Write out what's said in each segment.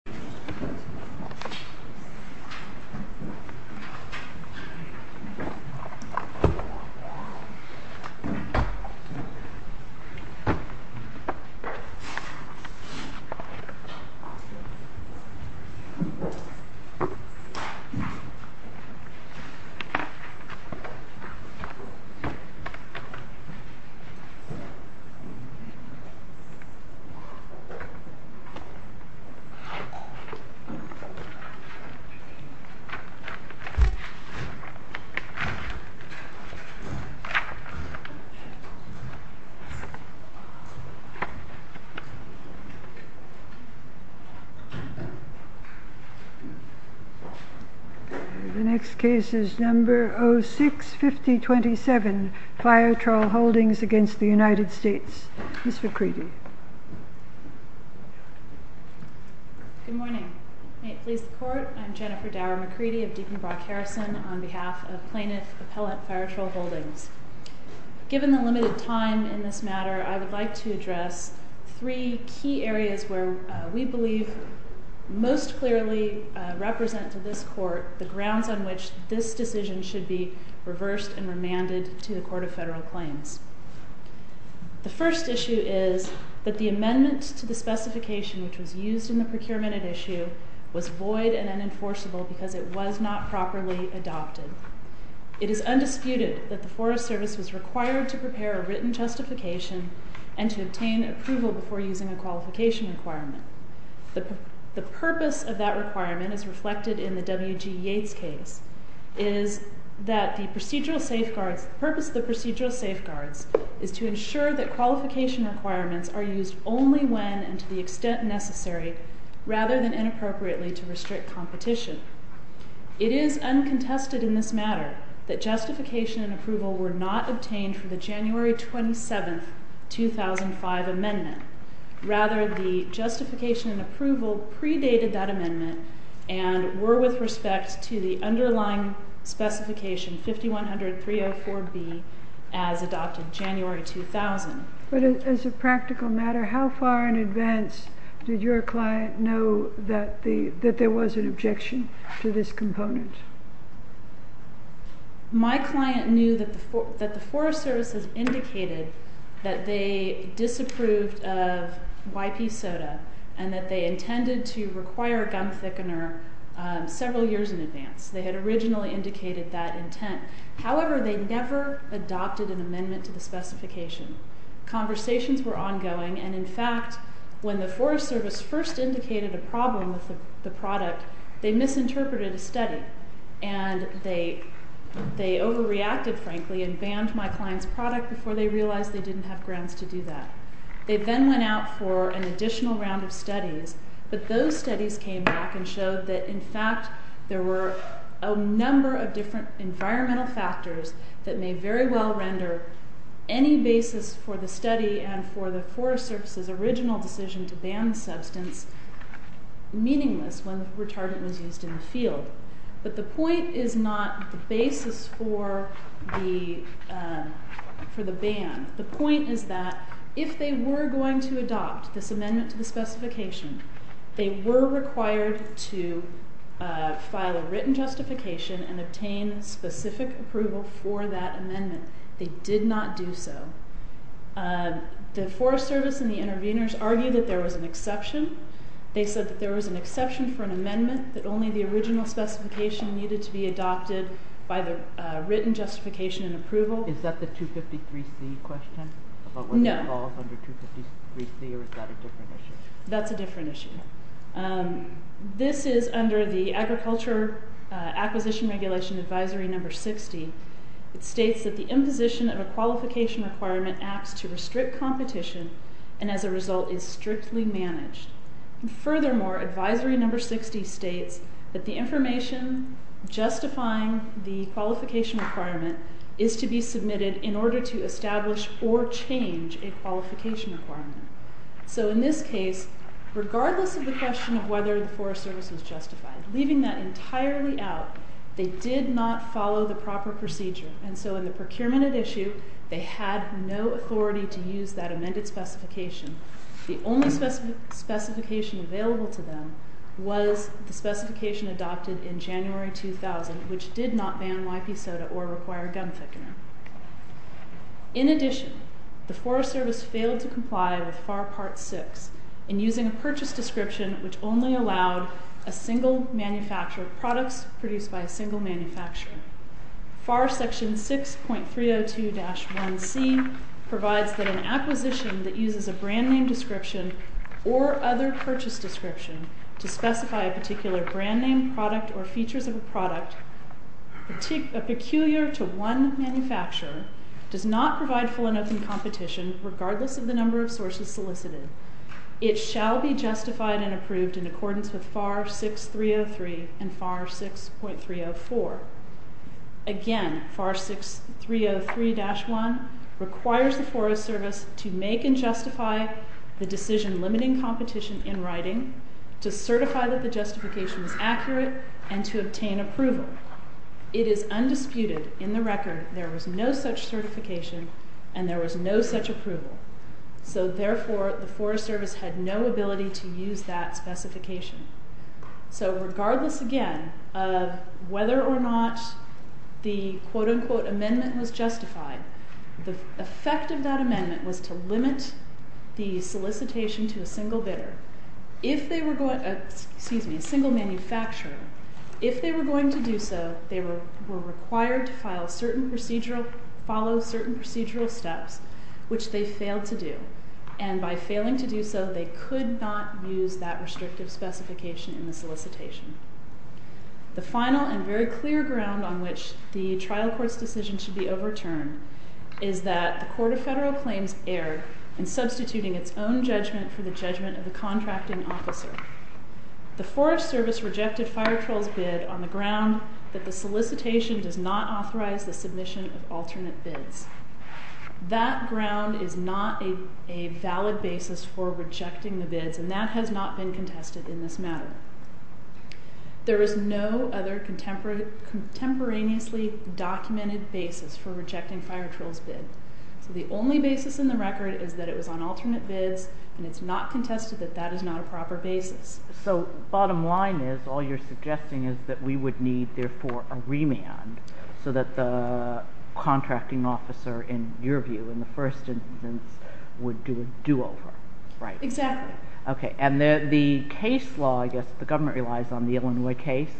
The Holdings LLC is a multi-purpose holding company that is located in the San Francisco area of San Francisco, California. The Holdings LLC is a multi-purpose holding company that is located in the San Francisco area of San Francisco, California. The next case is number 06-5027, Fire-Trol Holdings v. United States. Ms. McCready. Good morning. May it please the Court, I'm Jennifer Dower McCready of Deacon Brock Harrison on behalf of Plaintiff Appellate Fire-Trol Holdings. Given the limited time in this matter, I would like to address three key areas where we believe most clearly represent to this Court the grounds on which this decision should be reversed and remanded to the Court of Federal Claims. The first issue is that the amendment to the specification which was used in the procurement at issue was void and unenforceable because it was not properly adopted. It is undisputed that the Forest Service was required to prepare a written justification and to obtain approval before using a qualification requirement. The purpose of that requirement as reflected in the W.G. Yates case is that the procedural safeguards, the purpose of the procedural safeguards is to ensure that qualification requirements are used only when and to the extent necessary rather than inappropriately to restrict competition. It is uncontested in this matter that justification and approval were not obtained for the January 27, 2005 amendment. Rather, the justification and approval predated that amendment and were with respect to the underlying specification 5100304B as adopted January 2000. But as a practical matter, how far in advance did your client know that there was an objection to this component? My client knew that the Forest Service has indicated that they disapproved of YP soda and that they intended to require gum thickener several years in advance. They had originally indicated that intent. However, they never adopted an amendment to the specification. Conversations were ongoing and, in fact, when the Forest Service first indicated a problem with the product, they misinterpreted a study and they overreacted, frankly, and banned my client's product before they realized they didn't have grounds to do that. They then went out for an additional round of studies, but those studies came back and showed that, in fact, there were a number of different environmental factors that may very well render any basis for the study and for the Forest Service's original decision to ban the substance meaningless when the retardant was used in the field. But the point is not the basis for the ban. The point is that if they were going to adopt this amendment to the specification, they were required to file a written justification and obtain specific approval for that amendment. They did not do so. The Forest Service and the interveners argued that there was an exception. They said that there was an exception for an amendment, that only the original specification needed to be adopted by the written justification and approval. Is that the 253C question? No. About whether it falls under 253C or is that a different issue? That's a different issue. This is under the Agriculture Acquisition Regulation Advisory No. 60. It states that the imposition of a qualification requirement acts to restrict competition and, as a result, is strictly managed. Furthermore, Advisory No. 60 states that the information justifying the qualification requirement is to be submitted in order to establish or change a qualification requirement. So in this case, regardless of the question of whether the Forest Service was justified, leaving that entirely out, they did not follow the proper procedure. And so in the procurement at issue, they had no authority to use that amended specification. The only specification available to them was the specification adopted in January 2000, which did not ban YP soda or require gun thickener. In addition, the Forest Service failed to comply with FAR Part 6 in using a purchase description which only allowed a single manufacturer of products produced by a single manufacturer. FAR Section 6.302-1C provides that an acquisition that uses a brand name description or other purchase description to specify a particular brand name, product, or features of a product peculiar to one manufacturer does not provide full and open competition, regardless of the number of sources solicited. It shall be justified and approved in accordance with FAR 6.303 and FAR 6.304. Again, FAR 6.303-1 requires the Forest Service to make and justify the decision limiting competition in writing, to certify that the justification is accurate, and to obtain approval. However, it is undisputed in the record there was no such certification and there was no such approval. So therefore, the Forest Service had no ability to use that specification. So regardless, again, of whether or not the quote-unquote amendment was justified, the effect of that amendment was to limit the solicitation to a single bidder. If they were going to do so, they were required to follow certain procedural steps, which they failed to do. And by failing to do so, they could not use that restrictive specification in the solicitation. The final and very clear ground on which the trial court's decision should be overturned is that the Court of Federal Claims erred in substituting its own judgment for the judgment of the contracting officer. The Forest Service rejected Firetroll's bid on the ground that the solicitation does not authorize the submission of alternate bids. That ground is not a valid basis for rejecting the bids, and that has not been contested in this matter. There is no other contemporaneously documented basis for rejecting Firetroll's bid. So the only basis in the record is that it was on alternate bids, and it's not contested that that is not a proper basis. So bottom line is, all you're suggesting is that we would need, therefore, a remand so that the contracting officer, in your view, in the first instance, would do a do-over, right? Exactly. Okay. And the case law, I guess the government relies on the Illinois case?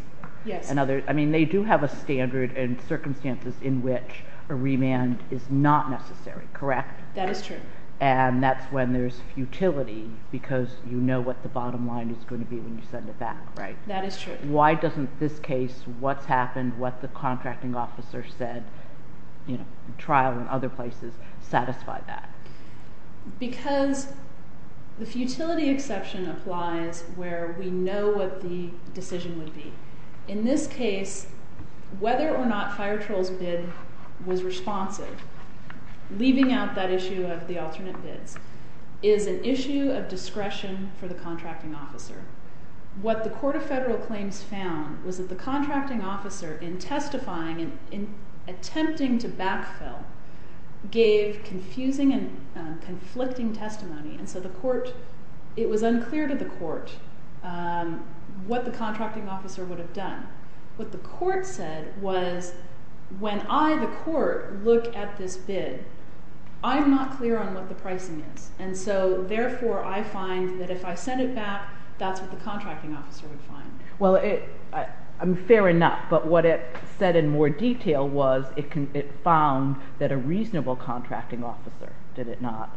Yes. I mean, they do have a standard and circumstances in which a remand is not necessary, correct? That is true. And that's when there's futility, because you know what the bottom line is going to be when you send it back, right? That is true. Why doesn't this case, what's happened, what the contracting officer said, you know, trial and other places, satisfy that? Because the futility exception applies where we know what the decision would be. In this case, whether or not Firetroll's bid was responsive, leaving out that issue of the alternate bids, is an issue of discretion for the contracting officer. What the Court of Federal Claims found was that the contracting officer, in testifying and attempting to backfill, gave confusing and conflicting testimony. And so the court, it was unclear to the court what the contracting officer would have done. What the court said was, when I, the court, look at this bid, I'm not clear on what the pricing is. And so, therefore, I find that if I send it back, that's what the contracting officer would find. Well, fair enough, but what it said in more detail was it found that a reasonable contracting officer, did it not,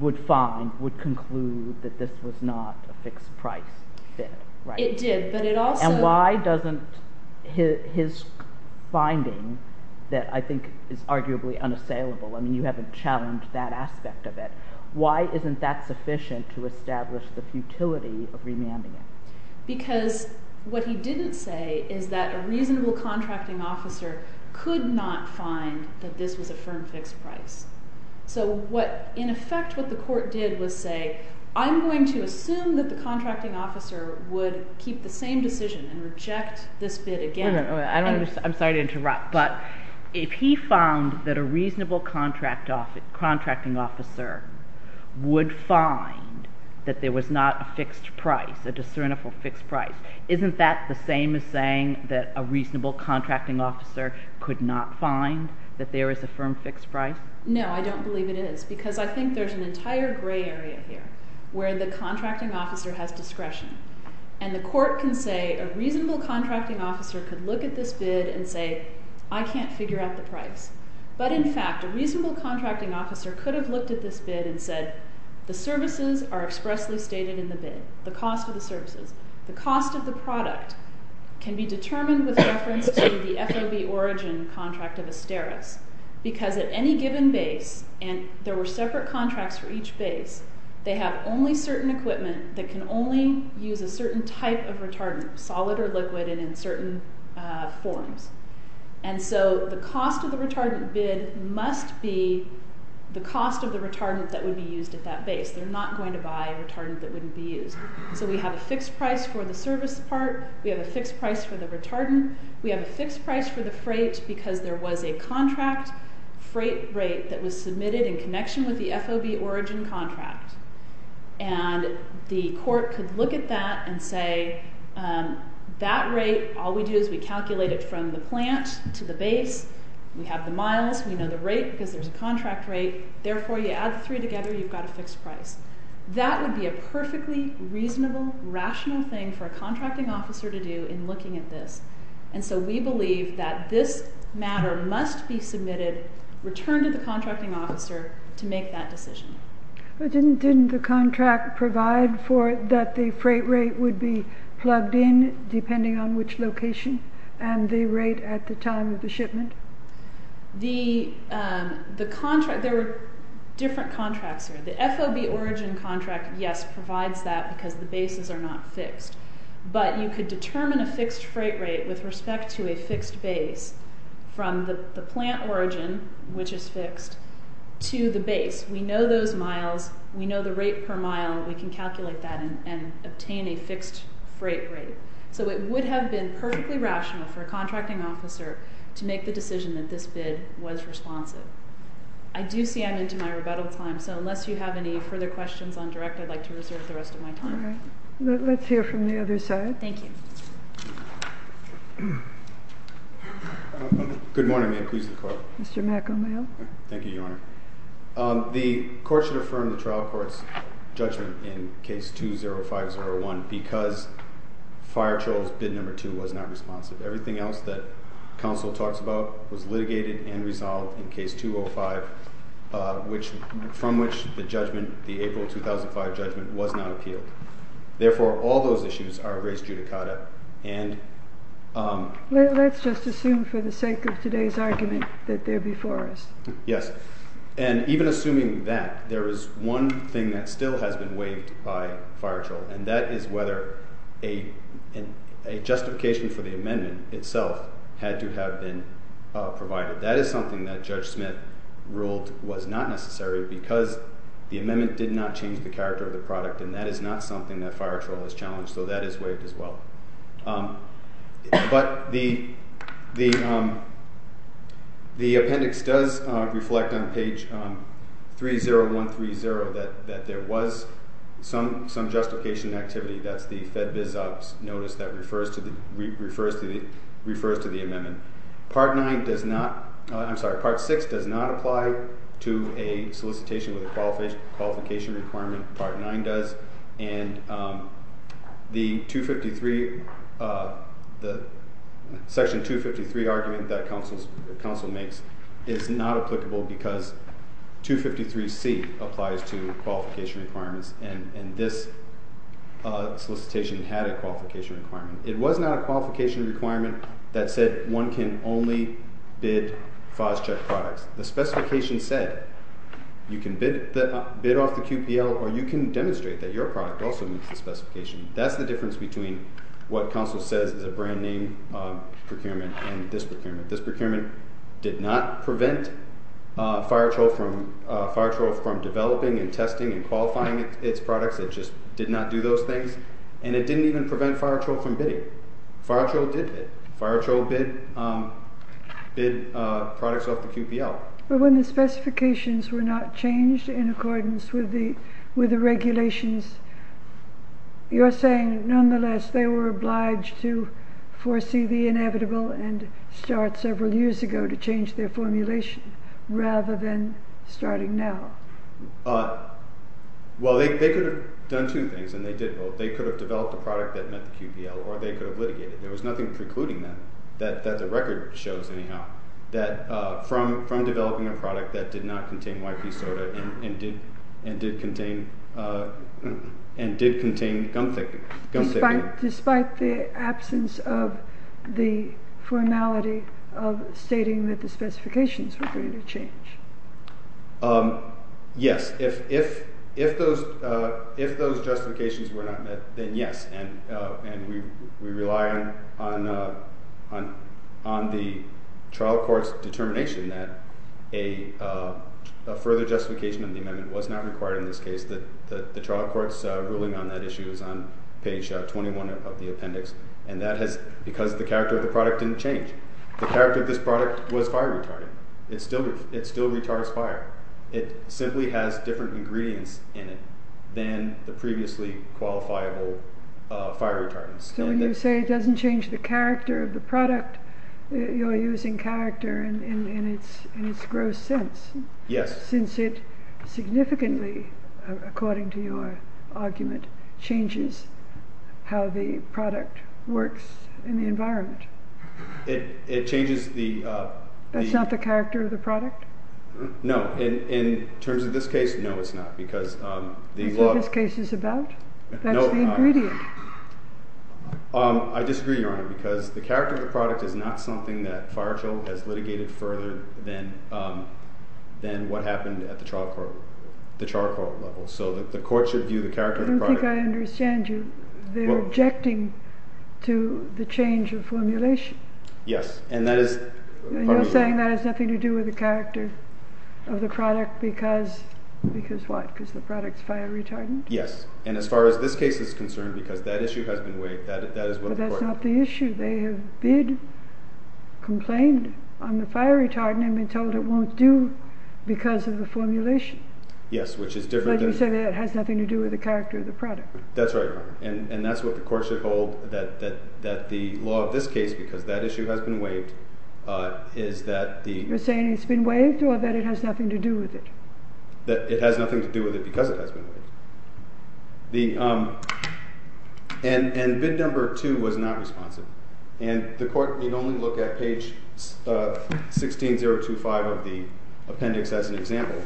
would find, would conclude that this was not a fixed price bid, right? It did, but it also… His finding that I think is arguably unassailable, I mean, you haven't challenged that aspect of it. Why isn't that sufficient to establish the futility of remanding it? Because what he didn't say is that a reasonable contracting officer could not find that this was a firm fixed price. So what, in effect, what the court did was say, I'm going to assume that the contracting officer would keep the same decision and reject this bid again. I'm sorry to interrupt, but if he found that a reasonable contracting officer would find that there was not a fixed price, a discernible fixed price, isn't that the same as saying that a reasonable contracting officer could not find that there is a firm fixed price? No, I don't believe it is, because I think there's an entire gray area here where the contracting officer has discretion. And the court can say a reasonable contracting officer could look at this bid and say, I can't figure out the price. But in fact, a reasonable contracting officer could have looked at this bid and said, the services are expressly stated in the bid, the cost of the services. The cost of the product can be determined with reference to the FOB origin contract of Asteris. Because at any given base, and there were separate contracts for each base, they have only certain equipment that can only use a certain type of retardant, solid or liquid, and in certain forms. And so the cost of the retardant bid must be the cost of the retardant that would be used at that base. They're not going to buy a retardant that wouldn't be used. So we have a fixed price for the service part. We have a fixed price for the retardant. We have a fixed price for the freight because there was a contract freight rate that was submitted in connection with the FOB origin contract. And the court could look at that and say, that rate, all we do is we calculate it from the plant to the base. We have the miles. We know the rate because there's a contract rate. Therefore, you add the three together, you've got a fixed price. That would be a perfectly reasonable, rational thing for a contracting officer to do in looking at this. And so we believe that this matter must be submitted, returned to the contracting officer to make that decision. But didn't the contract provide for it that the freight rate would be plugged in depending on which location and the rate at the time of the shipment? There were different contracts here. The FOB origin contract, yes, provides that because the bases are not fixed. But you could determine a fixed freight rate with respect to a fixed base from the plant origin, which is fixed, to the base. We know those miles. We know the rate per mile. We can calculate that and obtain a fixed freight rate. So it would have been perfectly rational for a contracting officer to make the decision that this bid was responsive. I do see I'm into my rebuttal time, so unless you have any further questions on direct, I'd like to reserve the rest of my time. All right. Let's hear from the other side. Thank you. Good morning. May I please have the floor? Mr. McOmail. Thank you, Your Honor. The court should affirm the trial court's judgment in case 20501 because Fire Troll's bid number two was not responsive. Everything else that counsel talks about was litigated and resolved in case 205, from which the judgment, the April 2005 judgment, was not appealed. Therefore, all those issues are of race judicata. Let's just assume for the sake of today's argument that they're before us. Yes. And even assuming that, there is one thing that still has been waived by Fire Troll, and that is whether a justification for the amendment itself had to have been provided. That is something that Judge Smith ruled was not necessary because the amendment did not change the character of the product, and that is not something that Fire Troll has challenged, so that is waived as well. But the appendix does reflect on page 30130 that there was some justification activity. That's the FedBizOpps notice that refers to the amendment. Part nine does not, I'm sorry, part six does not apply to a solicitation with a qualification requirement. Part nine does. And the section 253 argument that counsel makes is not applicable because 253C applies to qualification requirements, and this solicitation had a qualification requirement. It was not a qualification requirement that said one can only bid FOS check products. The specification said you can bid off the QPL or you can demonstrate that your product also meets the specification. That's the difference between what counsel says is a brand name procurement and this procurement. This procurement did not prevent Fire Troll from developing and testing and qualifying its products. It just did not do those things, and it didn't even prevent Fire Troll from bidding. Fire Troll did bid. Fire Troll bid products off the QPL. But when the specifications were not changed in accordance with the regulations, you're saying nonetheless they were obliged to foresee the inevitable and start several years ago to change their formulation rather than starting now. Well, they could have done two things, and they did both. They could have developed a product that met the QPL, or they could have litigated. There was nothing precluding them that the record shows anyhow that from developing a product that did not contain YP soda and did contain gum thickening. Despite the absence of the formality of stating that the specifications were going to change. Yes, if those justifications were not met, then yes, and we rely on the trial court's determination that a further justification of the amendment was not required in this case. The trial court's ruling on that issue is on page 21 of the appendix, and that is because the character of the product didn't change. The character of this product was fire retardant. It still retards fire. It simply has different ingredients in it than the previously qualifiable fire retardants. So when you say it doesn't change the character of the product, you're using character in its gross sense. Yes. Since it significantly, according to your argument, changes how the product works in the environment. It changes the— That's not the character of the product? No. In terms of this case, no, it's not, because the law— That's what this case is about. No, it's not. That's the ingredient. I disagree, Your Honor, because the character of the product is not something that Firechild has litigated further than what happened at the trial court, the trial court level. So the court should view the character of the product— Yes, and that is— You're saying that has nothing to do with the character of the product because—because what? Because the product's fire retardant? Yes, and as far as this case is concerned, because that issue has been weighed, that is what the court— But that's not the issue. They have been—complained on the fire retardant and been told it won't do because of the formulation. Yes, which is different than— But you say that it has nothing to do with the character of the product. That's right, Your Honor, and that's what the court should hold, that the law of this case, because that issue has been waived, is that the— You're saying it's been waived or that it has nothing to do with it? That it has nothing to do with it because it has been waived. The—and bid number two was not responsive, and the court need only look at page 16025 of the appendix as an example,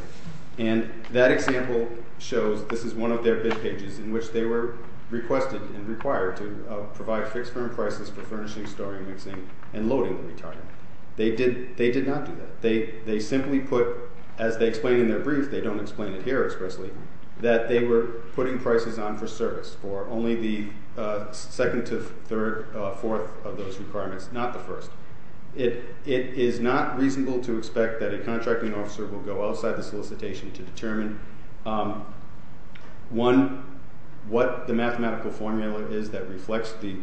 and that example shows this is one of their bid pages in which they were requested and required to provide fixed firm prices for furnishing, storing, mixing, and loading the retardant. They did not do that. They simply put, as they explain in their brief, they don't explain it here expressly, that they were putting prices on for service for only the second to third, fourth of those requirements, not the first. It is not reasonable to expect that a contracting officer will go outside the solicitation to determine, one, what the mathematical formula is that reflects the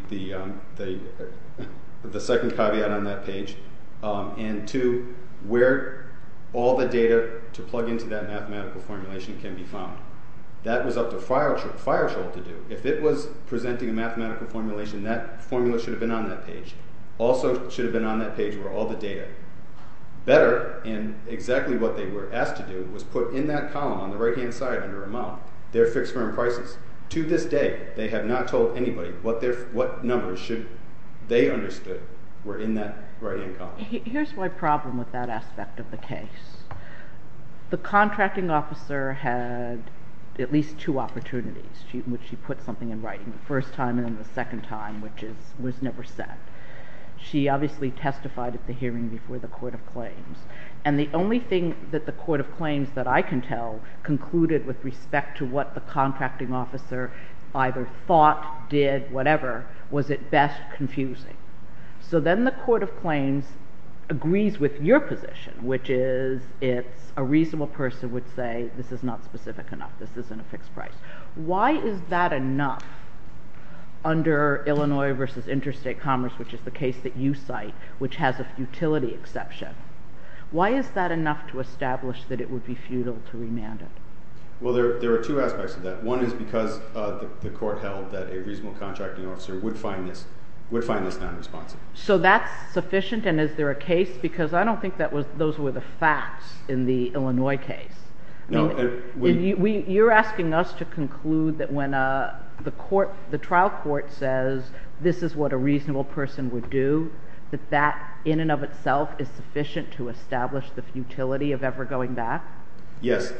second caveat on that page, and two, where all the data to plug into that mathematical formulation can be found. That was up to Fireshore to do. If it was presenting a mathematical formulation, that formula should have been on that page. Also, it should have been on that page where all the data. Better, and exactly what they were asked to do, was put in that column on the right-hand side under amount, their fixed firm prices. To this day, they have not told anybody what numbers they understood were in that right-hand column. Here's my problem with that aspect of the case. The contracting officer had at least two opportunities in which she put something in writing, the first time and then the second time, which was never set. She obviously testified at the hearing before the Court of Claims, and the only thing that the Court of Claims, that I can tell, concluded with respect to what the contracting officer either thought, did, whatever, was at best confusing. So then the Court of Claims agrees with your position, which is it's a reasonable person would say this is not specific enough, this isn't a fixed price. Why is that enough under Illinois v. Interstate Commerce, which is the case that you cite, which has a futility exception? Why is that enough to establish that it would be futile to remand it? Well, there are two aspects of that. One is because the Court held that a reasonable contracting officer would find this nonresponsive. So that's sufficient, and is there a case? Because I don't think those were the facts in the Illinois case. You're asking us to conclude that when the trial court says this is what a reasonable person would do, that that in and of itself is sufficient to establish the futility of ever going back? Yes,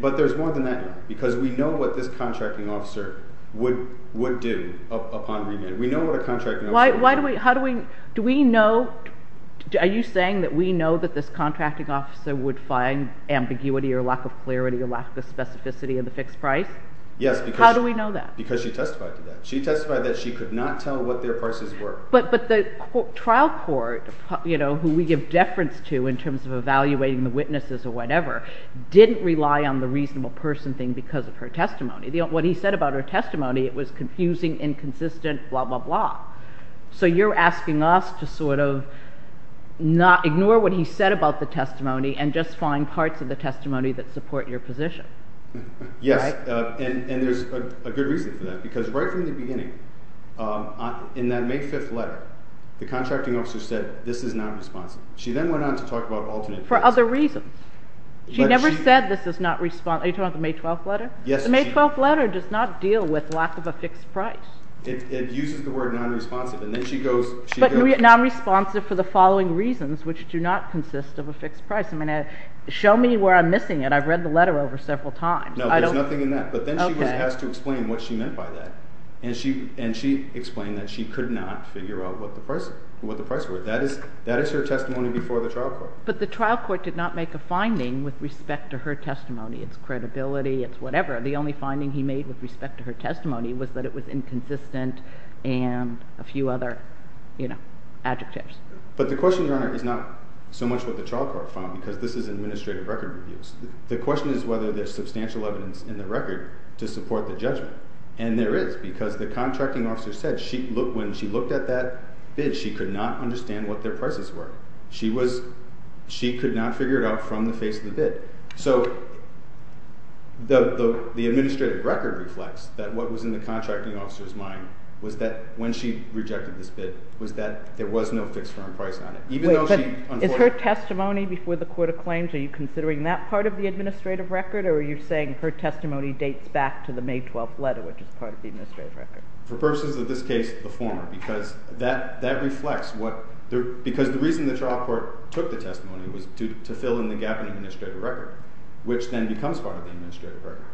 but there's more than that now, because we know what this contracting officer would do upon remand. Why do we, how do we, do we know, are you saying that we know that this contracting officer would find ambiguity or lack of clarity or lack of specificity in the fixed price? Yes. How do we know that? Because she testified to that. She testified that she could not tell what their prices were. But the trial court, you know, who we give deference to in terms of evaluating the witnesses or whatever, didn't rely on the reasonable person thing because of her testimony. What he said about her testimony, it was confusing, inconsistent, blah, blah, blah. So you're asking us to sort of not, ignore what he said about the testimony and just find parts of the testimony that support your position. Yes. Right? And there's a good reason for that, because right from the beginning, in that May 5th letter, the contracting officer said this is nonresponsive. She then went on to talk about alternate. For other reasons. The May 12th letter does not deal with lack of a fixed price. It uses the word nonresponsive. But nonresponsive for the following reasons, which do not consist of a fixed price. I mean, show me where I'm missing it. I've read the letter over several times. No, there's nothing in that. But then she has to explain what she meant by that. And she explained that she could not figure out what the price was. That is her testimony before the trial court. But the trial court did not make a finding with respect to her testimony. It's credibility. It's whatever. The only finding he made with respect to her testimony was that it was inconsistent and a few other adjectives. But the question, Your Honor, is not so much what the trial court found, because this is administrative record reviews. The question is whether there's substantial evidence in the record to support the judgment. And there is, because the contracting officer said when she looked at that bid, she could not understand what their prices were. She could not figure it out from the face of the bid. So the administrative record reflects that what was in the contracting officer's mind was that when she rejected this bid, was that there was no fixed firm price on it, even though she— Is her testimony before the court of claims, are you considering that part of the administrative record, or are you saying her testimony dates back to the May 12th letter, which is part of the administrative record? For purposes of this case, the former, because that reflects what— which then becomes part of the administrative record.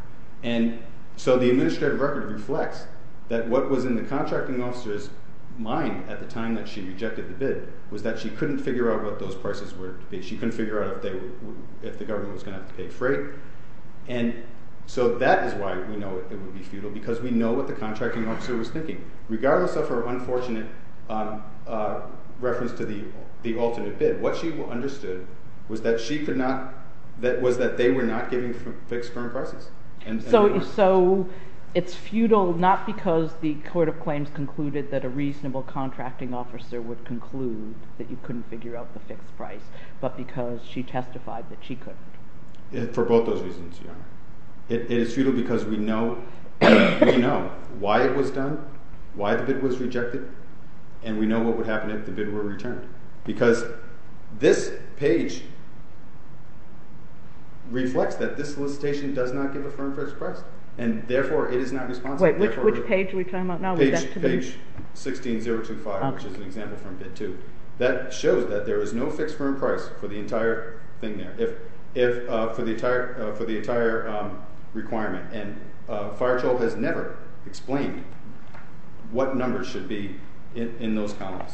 And so the administrative record reflects that what was in the contracting officer's mind at the time that she rejected the bid was that she couldn't figure out what those prices were to be. She couldn't figure out if the government was going to have to pay freight. And so that is why we know it would be futile, because we know what the contracting officer was thinking. Regardless of her unfortunate reference to the alternate bid, what she understood was that she could not—was that they were not giving fixed firm prices. And so it's futile not because the court of claims concluded that a reasonable contracting officer would conclude that you couldn't figure out the fixed price, but because she testified that she couldn't. For both those reasons, Your Honor. It is futile because we know why it was done, why the bid was rejected, and we know what would happen if the bid were returned. Because this page reflects that this solicitation does not give a firm fixed price, and therefore it is not responsible. Wait, which page are we talking about now? Page 16-025, which is an example from Bid 2. That shows that there is no fixed firm price for the entire thing there, for the entire requirement. And Farachov has never explained what numbers should be in those columns.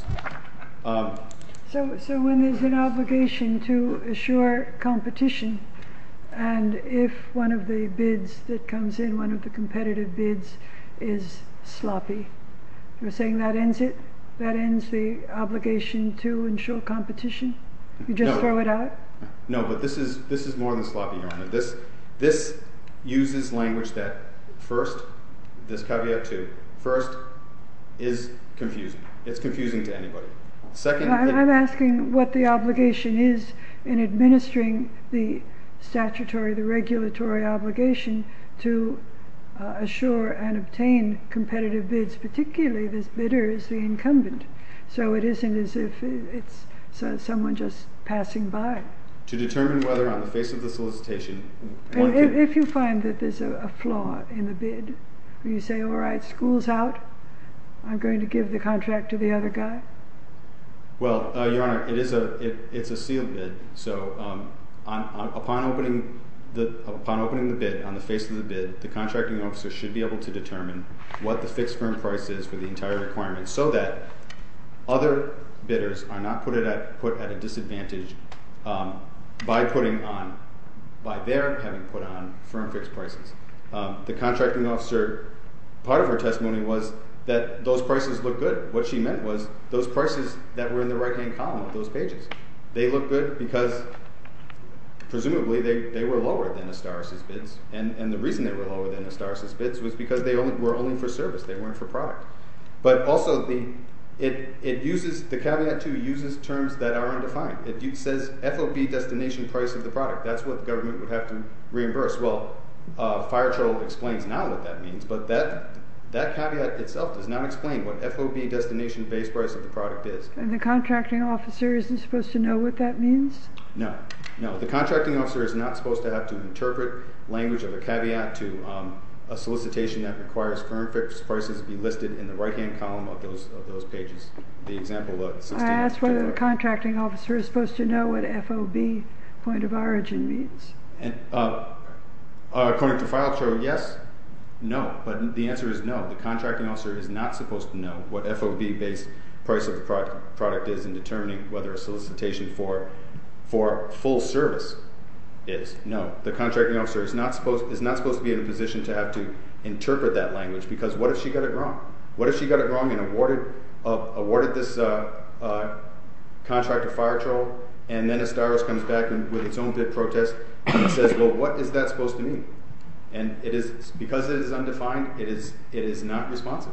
So when there's an obligation to assure competition, and if one of the bids that comes in, one of the competitive bids, is sloppy, you're saying that ends it? That ends the obligation to ensure competition? You just throw it out? No, but this is more than sloppy, Your Honor. This uses language that, first, this caveat too, first, is confusing. It's confusing to anybody. I'm asking what the obligation is in administering the statutory, the regulatory obligation to assure and obtain competitive bids, particularly this bidder is the incumbent. So it isn't as if it's someone just passing by. To determine whether on the face of the solicitation... And if you find that there's a flaw in the bid, you say, all right, school's out, I'm going to give the contract to the other guy? Well, Your Honor, it is a sealed bid. So upon opening the bid, on the face of the bid, the contracting officer should be able to determine what the fixed firm price is for the entire requirement so that other bidders are not put at a disadvantage by their having put on firm fixed prices. The contracting officer, part of her testimony was that those prices looked good. What she meant was those prices that were in the right-hand column of those pages, they looked good because presumably they were lower than Astaris's bids, and the reason they were lower than Astaris's bids was because they were only for service, they weren't for product. But also, the caveat 2 uses terms that are undefined. It says FOB destination price of the product. That's what the government would have to reimburse. Well, Fire Troll explains now what that means, but that caveat itself does not explain what FOB destination base price of the product is. And the contracting officer isn't supposed to know what that means? No, no. The contracting officer is not supposed to have to interpret language of the caveat 2, a solicitation that requires firm fixed prices be listed in the right-hand column of those pages. The example of 16- I asked whether the contracting officer is supposed to know what FOB point of origin means. According to Fire Troll, yes, no, but the answer is no. The contracting officer is not supposed to know what FOB base price of the product is in determining whether a solicitation for full service is. No, the contracting officer is not supposed to be in a position to have to interpret that language because what if she got it wrong? What if she got it wrong and awarded this contract to Fire Troll, and then Astaris comes back with its own bid protest and says, well, what is that supposed to mean? And because it is undefined, it is not responsive.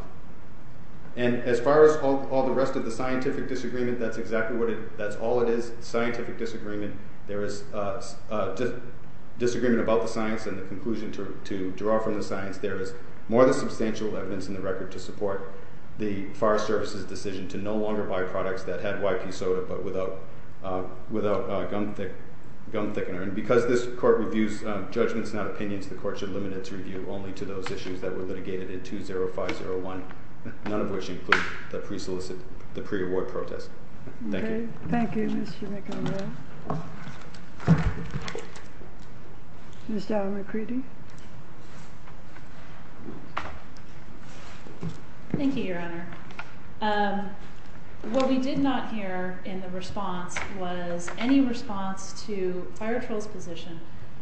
And as far as all the rest of the scientific disagreement, that's exactly what it is. That's all it is, scientific disagreement. There is disagreement about the science and the conclusion to draw from the science. There is more than substantial evidence in the record to support the Forest Service's decision to no longer buy products that had YP soda but without gum thickener. And because this court reviews judgments, not opinions, the court should limit its review only to those issues that were litigated in 2005-01, none of which include the pre-award protest. Thank you. Thank you, Mr. McEnroe. Ms. Dow McCready. Thank you, Your Honor. What we did not hear in the response was any response to Fire Troll's position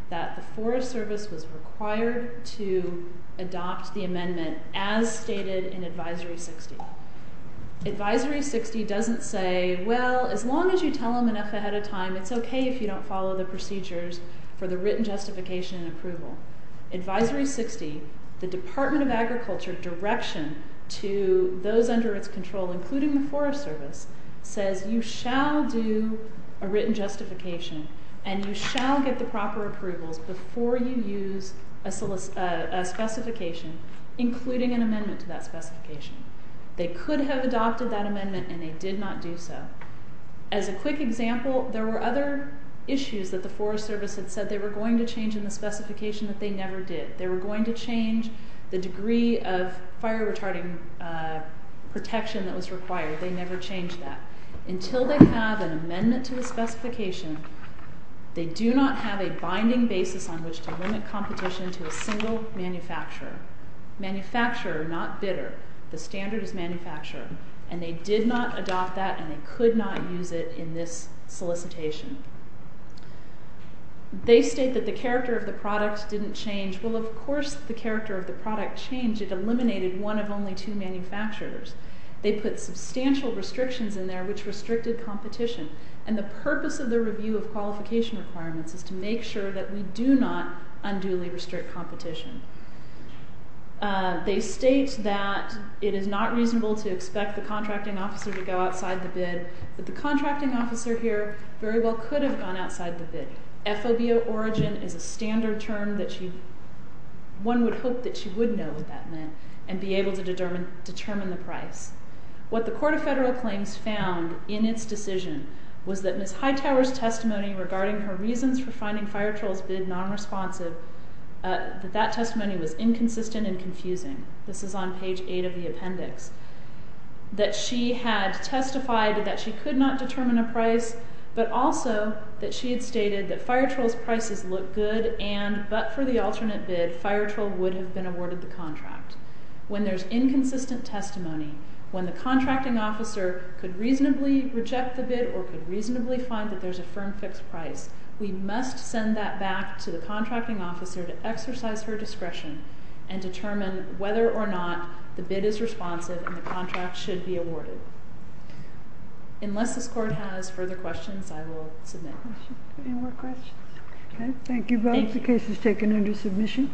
that the Forest Service was required to adopt the amendment as stated in Advisory 60. Advisory 60 doesn't say, well, as long as you tell them enough ahead of time, it's okay if you don't follow the procedures for the written justification and approval. Advisory 60, the Department of Agriculture direction to those under its control, including the Forest Service, says you shall do a written justification and you shall get the proper approvals before you use a specification, including an amendment to that specification. They could have adopted that amendment and they did not do so. As a quick example, there were other issues that the Forest Service had said they were going to change in the specification that they never did. They were going to change the degree of fire retarding protection that was required. They never changed that. Until they have an amendment to the specification, they do not have a binding basis on which to limit competition to a single manufacturer. Manufacturer, not bidder. The standard is manufacturer. And they did not adopt that and they could not use it in this solicitation. They state that the character of the product didn't change. Well, of course the character of the product changed. It eliminated one of only two manufacturers. They put substantial restrictions in there which restricted competition. And the purpose of the review of qualification requirements is to make sure that we do not unduly restrict competition. They state that it is not reasonable to expect the contracting officer to go outside the bid. But the contracting officer here very well could have gone outside the bid. FOBO origin is a standard term that one would hope that she would know what that meant and be able to determine the price. What the Court of Federal Claims found in its decision was that Ms. Hightower's testimony regarding her reasons for finding FireTroll's bid nonresponsive, that that testimony was inconsistent and confusing. This is on page 8 of the appendix. That she had testified that she could not determine a price, but also that she had stated that FireTroll's prices looked good and but for the alternate bid, FireTroll would have been awarded the contract. When there's inconsistent testimony, when the contracting officer could reasonably reject the bid or could reasonably find that there's a firm fixed price, we must send that back to the contracting officer to exercise her discretion and determine whether or not the bid is responsive and the contract should be awarded. Unless this Court has further questions, I will submit. Any more questions? Okay. Thank you both. The case is taken under submission. Thank you.